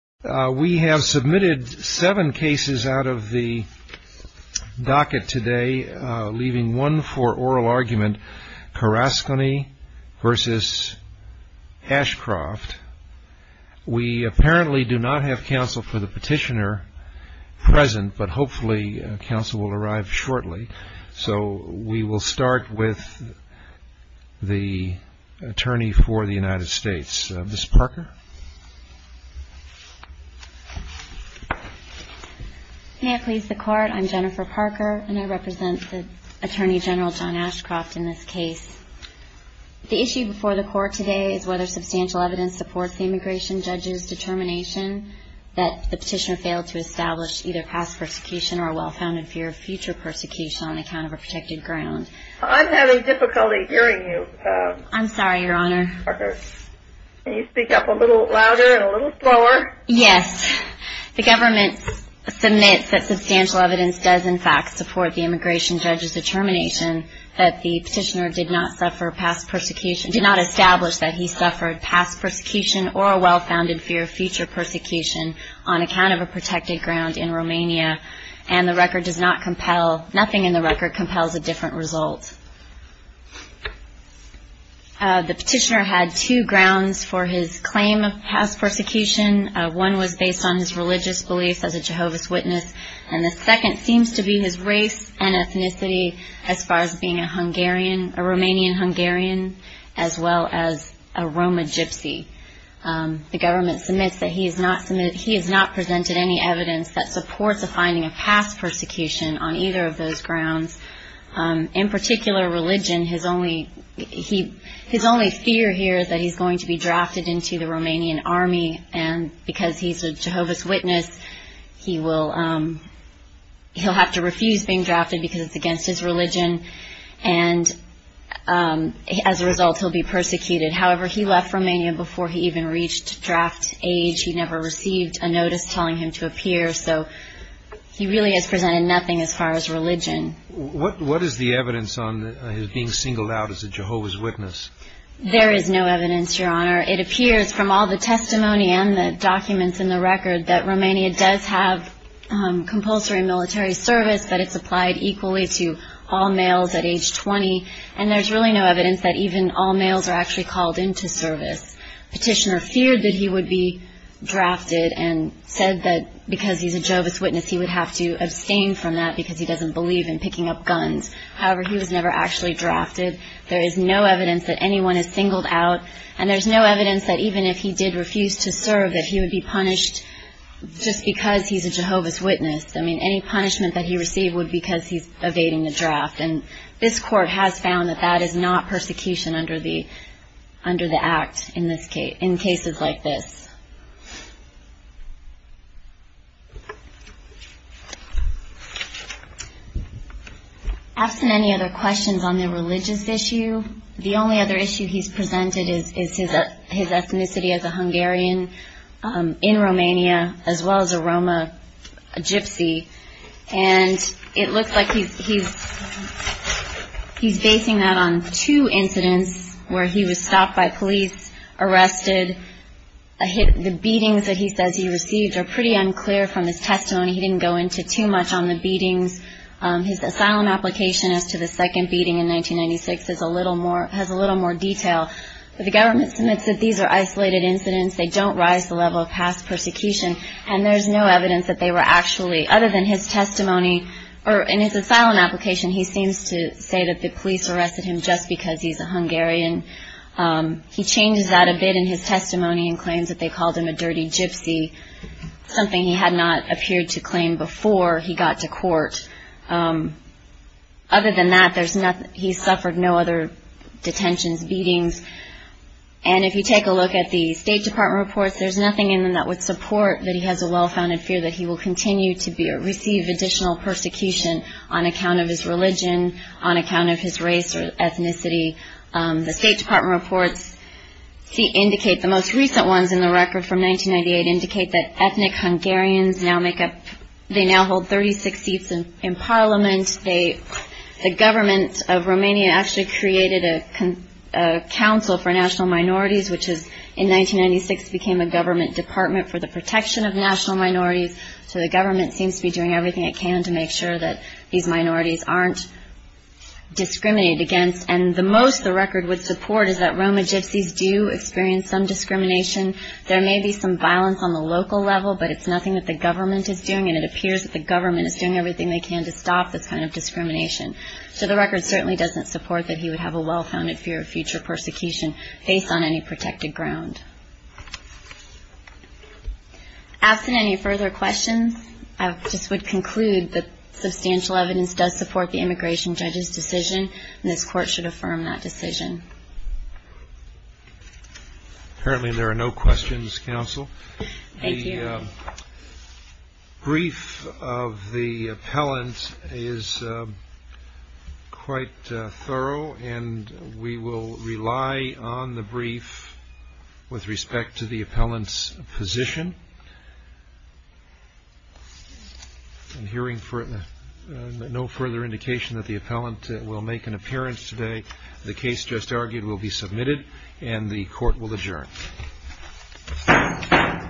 We have submitted seven cases out of the docket today, leaving one for oral argument, Caracsony v. Ashcroft. We apparently do not have counsel for the petitioner present, but hopefully counsel will arrive shortly. We will start with the Attorney for the United States, Ms. Parker. Jennifer Parker May I please the Court? I'm Jennifer Parker, and I represent Attorney General John Ashcroft in this case. The issue before the Court today is whether substantial evidence supports the immigration judge's determination that the petitioner failed to establish either past persecution or a well-founded fear of future persecution. I'm having difficulty hearing you, Ms. Parker. Can you speak up a little louder and a little slower? Yes. The government submits that substantial evidence does in fact support the immigration judge's determination that the petitioner did not establish that he suffered past persecution or a well-founded fear of future persecution on account of a protected ground in Romania. And the record does not compel, nothing in the record compels a different result. The petitioner had two grounds for his claim of past persecution. One was based on his religious beliefs as a Jehovah's Witness. And the second seems to be his race and ethnicity as far as being a Romanian-Hungarian as well as a Roma Gypsy. The government submits that he has not presented any evidence that supports the finding of past persecution on either of those grounds. In particular, religion. His only fear here is that he's going to be drafted into the Romanian Army. And because he's a Jehovah's Witness, he'll have to refuse being drafted because it's against his religion. And as a result, he'll be persecuted. However, he left Romania before he even reached draft age. He never received a notice telling him to appear. So he really has presented nothing as far as religion. What is the evidence on his being singled out as a Jehovah's Witness? There is no evidence, Your Honor. It appears from all the testimony and the documents in the record that Romania does have compulsory military service. But it's applied equally to all males at age 20. And there's really no evidence that even all males are actually called into service. Petitioner feared that he would be drafted and said that because he's a Jehovah's Witness, he would have to abstain from that because he doesn't believe in picking up guns. However, he was never actually drafted. There is no evidence that anyone is singled out. And there's no evidence that even if he did refuse to serve, that he would be punished just because he's a Jehovah's Witness. I mean, any punishment that he received would be because he's evading the draft. And this court has found that that is not persecution under the act in cases like this. Asked him any other questions on the religious issue. The only other issue he's presented is his ethnicity as a Hungarian in Romania, as well as a Roma Gypsy. And it looks like he's basing that on two incidents where he was stopped by police, arrested. The beatings that he says he received are pretty unclear from his testimony. He didn't go into too much on the beatings. His asylum application as to the second beating in 1996 has a little more detail. But the government submits that these are isolated incidents. They don't rise to the level of past persecution. And there's no evidence that they were actually, other than his testimony, or in his asylum application, he seems to say that the police arrested him just because he's a Hungarian. He changes that a bit in his testimony and claims that they called him a dirty gypsy, something he had not appeared to claim before he got to court. Other than that, he's suffered no other detentions, beatings. And if you take a look at the State Department reports, there's nothing in them that would support that he has a well-founded fear that he will continue to receive additional persecution on account of his religion, on account of his race or ethnicity. The State Department reports indicate, the most recent ones in the record from 1998, indicate that ethnic Hungarians now make up, they now hold 36 seats in Parliament. The government of Romania actually created a council for national minorities, which in 1996 became a government department for the protection of national minorities. So the government seems to be doing everything it can to make sure that these minorities aren't discriminated against. And the most the record would support is that Roma gypsies do experience some discrimination. There may be some violence on the local level, but it's nothing that the government is doing. And it appears that the government is doing everything they can to stop this kind of discrimination. So the record certainly doesn't support that he would have a well-founded fear of future persecution, based on any protected ground. Absent any further questions, I just would conclude that substantial evidence does support the immigration judge's decision, and this Court should affirm that decision. Apparently there are no questions, Counsel. The brief of the appellant is quite thorough, and we will rely on the brief with respect to the appellant's position. I'm hearing no further indication that the appellant will make an appearance today. The case just argued will be submitted, and the Court will adjourn.